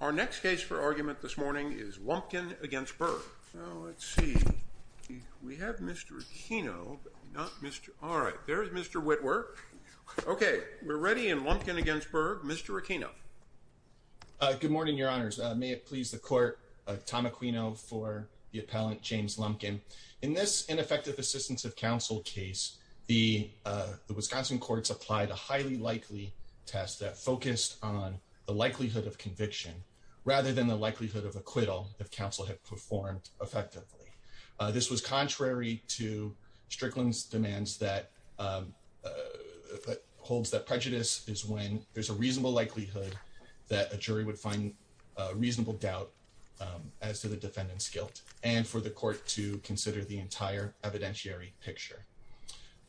Our next case for argument this morning is Lumpkin v. Berg. So let's see, we have Mr. Aquino, not Mr. All right, there's Mr. Witwer. Okay, we're ready in Lumpkin v. Berg. Mr. Aquino. Good morning, your honors. May it please the court, Tom Aquino for the appellant James Lumpkin. In this ineffective assistance of counsel case, the Wisconsin courts applied a highly likely test that focused on the likelihood of conviction rather than the likelihood of acquittal if counsel had performed effectively. This was contrary to Strickland's demands that holds that prejudice is when there's a reasonable likelihood that a jury would find a reasonable doubt as to the defendant's guilt and for the court to consider the entire evidentiary picture.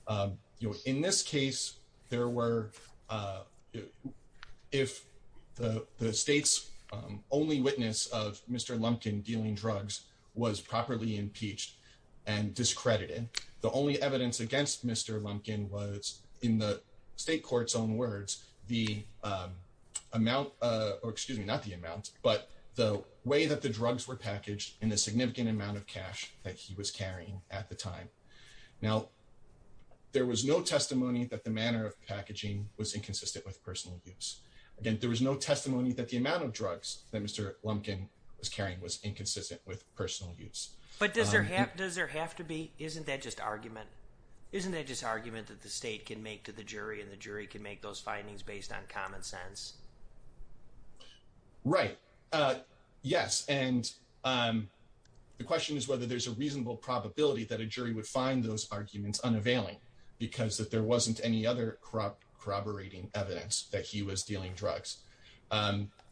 You know, in this case, there were if the state's only witness of Mr. Lumpkin dealing drugs was properly impeached and discredited, the only evidence against Mr. Lumpkin was in the state court's own words, the amount, or excuse me, not the amount, but the way that the drugs were packaged in the significant amount of cash that was carrying at the time. Now, there was no testimony that the manner of packaging was inconsistent with personal use. Again, there was no testimony that the amount of drugs that Mr. Lumpkin was carrying was inconsistent with personal use. But does there have to be, isn't that just argument? Isn't that just argument that the state can make to the jury and the jury can make those findings based on common sense? Right. Yes. And the question is whether there's a reasonable probability that a jury would find those arguments unavailing because that there wasn't any other corroborating evidence that he was dealing drugs.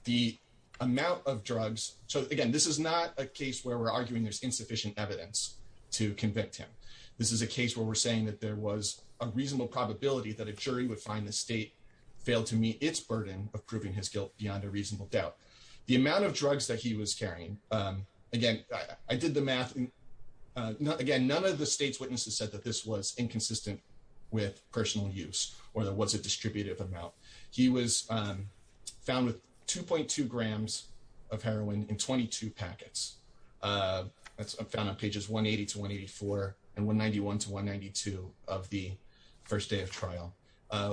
The amount of drugs, so again, this is not a case where we're arguing there's insufficient evidence to convict him. This is a case where we're saying that there was a reasonable probability that a jury would find the state failed to meet its burden of proving his guilt beyond a reasonable doubt. The amount of drugs that he was carrying, again, I did the math. Again, none of the state's witnesses said that this was inconsistent with personal use or there was a distributive amount. He was found with 2.2 grams of heroin in 22 packets. That's found on pages 180 to 184 and 191 to 192 of the first day of trial.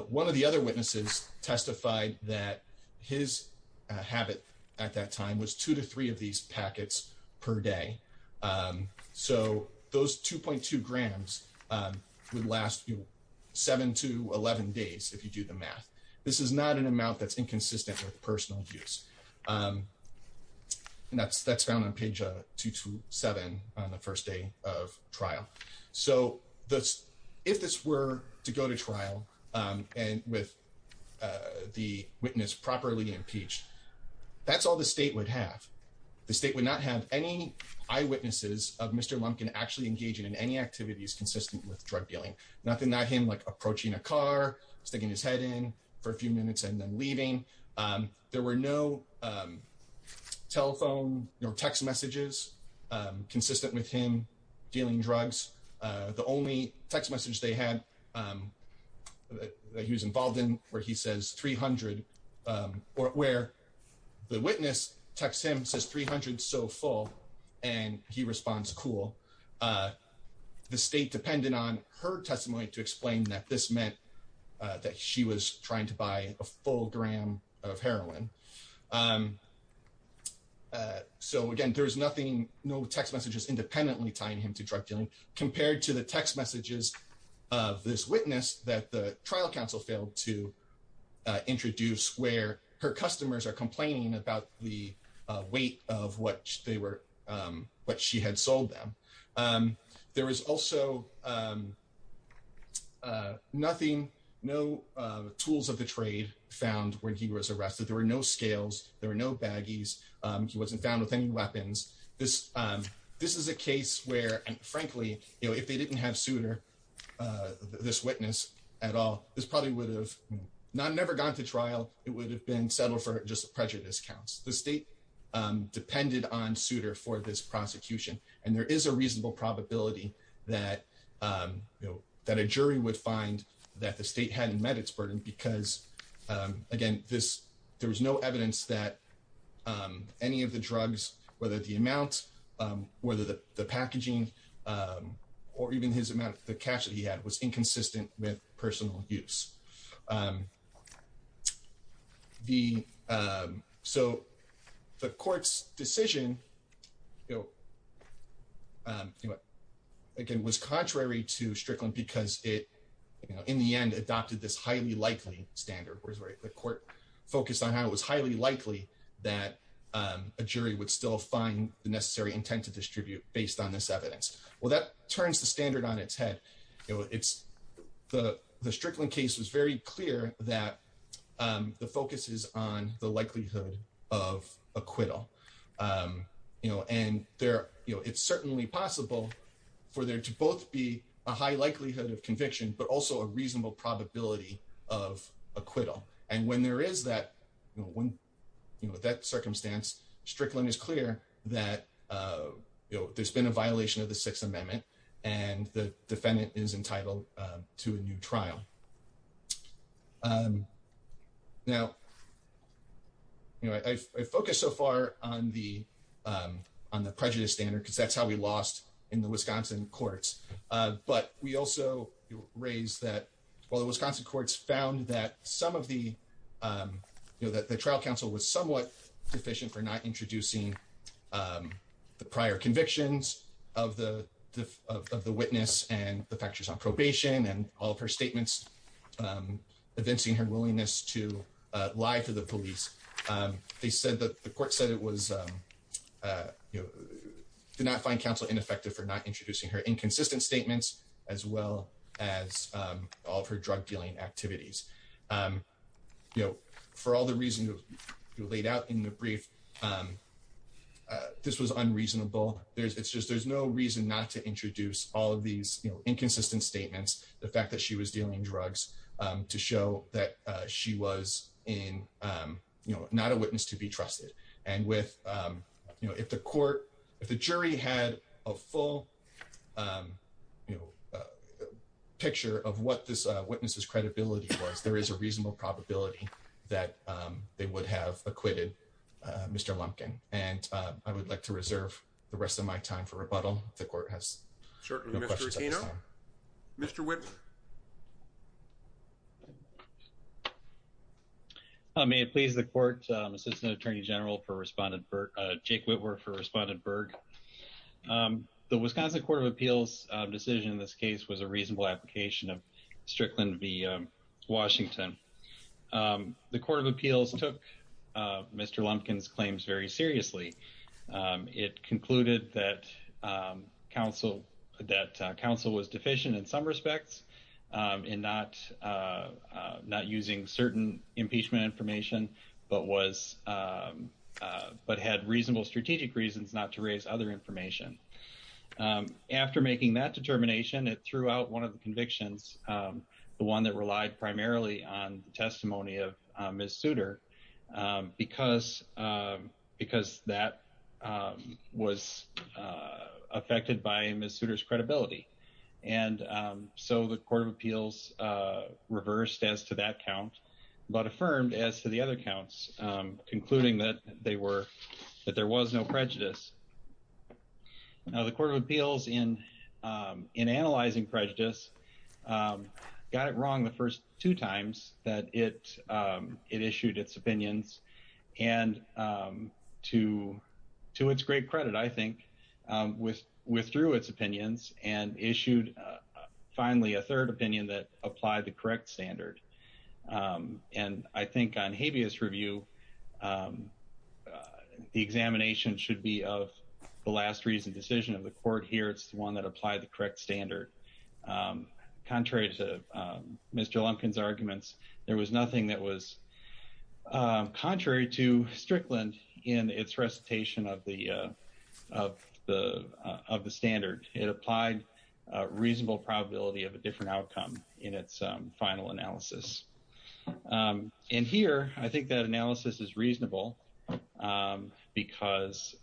One of the other witnesses testified that his habit at that time was two to three of these packets per day. So those 2.2 grams would last you seven to 11 days if you do the math. This is not an amount that's inconsistent with personal use. That's found on page 227 on the first day of trial. So if this were to go to trial and with the witness properly impeached, that's all the state would have. The state would not have any eyewitnesses of Mr. Lumpkin actually engaging in any activities consistent with drug dealing. Nothing like him approaching a car, sticking his head in for a few minutes and then leaving. There were no telephone or text messages consistent with him dealing drugs. The only text message they had that he was involved in where he says 300 or where the witness texts him says 300 so full and he responds cool. The state depended on her testimony to explain that this meant that she was trying to buy a full gram of heroin. So again, there's nothing, no text messages independently tying him to drug dealing compared to the text messages of this witness that the trial counsel failed to introduce where her customers are complaining about the weight of what she had sold them. There was also nothing, no tools of the trade found when he was arrested. There were no scales. There were no baggies. He wasn't found with any weapons. This is a case where, frankly, if they didn't have Souter, this witness at all, this probably would have never gone to trial. It would have been settled for just prejudice counts. The state depended on Souter for this probability that a jury would find that the state hadn't met its burden because, again, there was no evidence that any of the drugs, whether the amount, whether the packaging or even his amount, the cash that he had was inconsistent with personal use. So the court's decision, again, was contrary to Strickland because it, in the end, adopted this highly likely standard where the court focused on how it was highly likely that a jury would still find the necessary intent to distribute based on this evidence. Well, that turns the standard on its head. The Strickland case was very clear that the focus is on the likelihood of acquittal. And it's certainly possible for there to both be a high likelihood of conviction but also a reasonable probability of acquittal. And when there is that circumstance, Strickland is clear that there's been a violation of the Sixth Amendment and the defendant is entitled to a new trial. Now, I've focused so far on the prejudice standard because that's how we lost in the Wisconsin courts. But we also raised that while the Wisconsin courts found that some of the trial counsel was somewhat deficient for not introducing the prior convictions of the witness and the factors on probation and all of her statements evincing her willingness to lie to the police, they said that the court said it was, did not find counsel ineffective for not introducing her inconsistent statements as well as all of her drug dealing activities. For all the reasons you laid out in the brief, this was unreasonable. It's just there's no reason not to introduce all of these inconsistent statements, the fact that she was dealing drugs to show that she was not a witness to be trusted. And if the jury had a full picture of what this witness's credibility was, there is a reasonable probability that they would have acquitted Mr. Lumpkin. And I would like to reserve the rest of my time for rebuttal. The court has no questions at this time. Sure. Mr. Aquino. Mr. Whitworth. May it please the court, Assistant Attorney General for Respondent, Jake Whitworth for Respondent Berg. The Wisconsin Court of Appeals decision in this case was a reasonable application of Strickland v. Washington. The Court of Appeals took Mr. Lumpkin's claims very seriously. It concluded that counsel was deficient in some respects in not using certain impeachment information but had reasonable strategic reasons not to raise other information. After making that determination, it threw out one of the convictions, the one that relied primarily on the testimony of Ms. Souter, because that was affected by Ms. Souter's credibility. And so the Court of Appeals reversed as to that count but affirmed as to the other counts, concluding that there was no prejudice. Now, the Court of Appeals, in analyzing prejudice, got it wrong the first two times that it issued its opinions. And to its great credit, I think, withdrew its opinions and issued finally a third opinion that applied the correct standard. And I think on habeas review, the examination should be of the last reasoned decision of the Court here. It's the one that applied the correct standard. Contrary to Mr. Lumpkin's arguments, there was nothing that was contrary to Strickland in its recitation of the standard. It applied a reasonable probability of a different outcome in its final analysis. And here, I think that analysis is reasonable because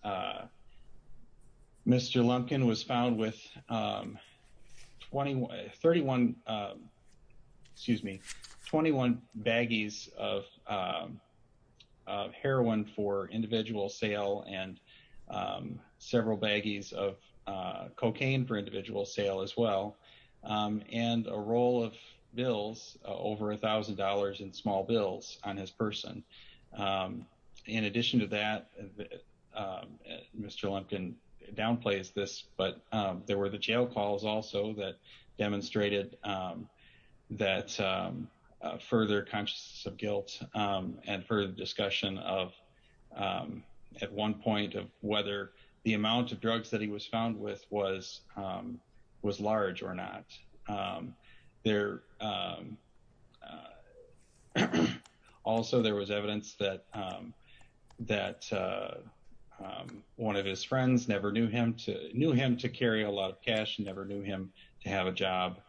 Mr. Lumpkin was found with 31, excuse me, 21 baggies of heroin for individual sale and several baggies of cocaine for individual sale as well, and a roll of bills over $1,000 in small bills on his person. In addition to that, Mr. Lumpkin downplays this, but there were the jail calls also that demonstrated that further consciousness of guilt and further discussion of, at one point, of whether the amount of drugs that he was found with was large or not. Also, there was evidence that one of his friends knew him to carry a lot of cash and never knew him to have a job.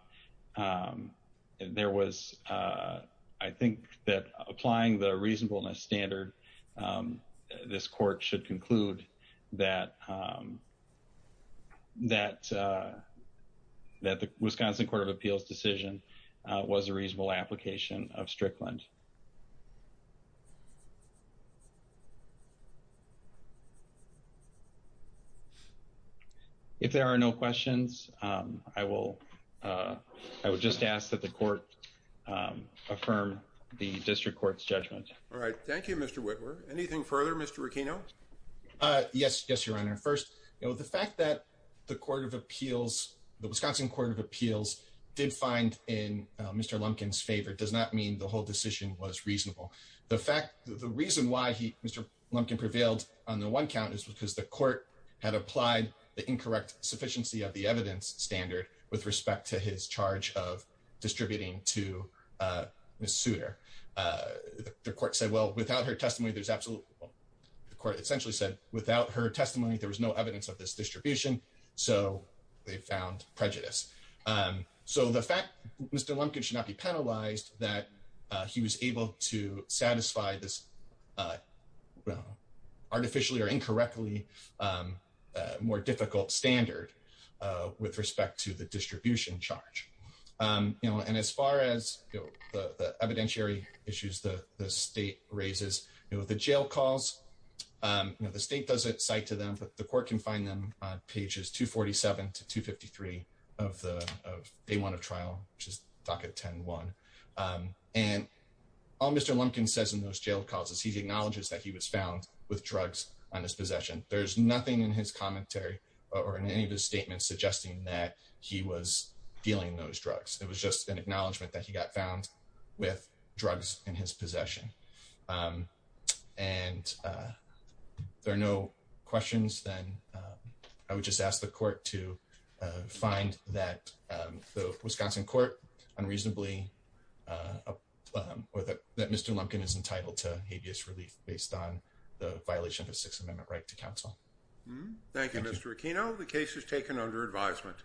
There was, I think, that applying the reasonableness standard, this Court should conclude that the Wisconsin Court of Appeals decision was a reasonable application of Strickland. If there are no questions, I will just ask that the Court affirm the District Court's judgment. All right. Thank you, Mr. Whitmer. Anything further, Mr. Requeno? Yes, Your Honor. First, the fact that the Wisconsin Court of Appeals did find in Mr. Lumpkin's favor does not mean the whole decision is in Mr. Lumpkin's favor. The reason why Mr. Lumpkin prevailed on the one count is because the Court had applied the incorrect sufficiency of the evidence standard with respect to his charge of distributing to Ms. Souter. The Court essentially said, without her testimony, there was no evidence of this distribution, so they found prejudice. So the fact that Mr. Lumpkin should not be penalized, that he was able to satisfy this artificially or incorrectly more difficult standard with respect to the distribution charge. And as far as the evidentiary issues the State raises, the jail calls, you know, the State does it cite to them, but the Court can find them on pages 247 to 253 of day one of trial, which is docket 10-1. And all Mr. Lumpkin says in those jail calls is he acknowledges that he was found with drugs on his possession. There's nothing in his commentary or in any of his statements suggesting that he was dealing those drugs. It was just an acknowledgement that he got found with drugs in his possession. And if there are no questions, then I would just ask the Court to find that the Wisconsin Court unreasonably, or that Mr. Lumpkin is entitled to habeas relief based on the violation of the Sixth Amendment right to counsel. Thank you, Mr. Aquino. The case is taken under advisement.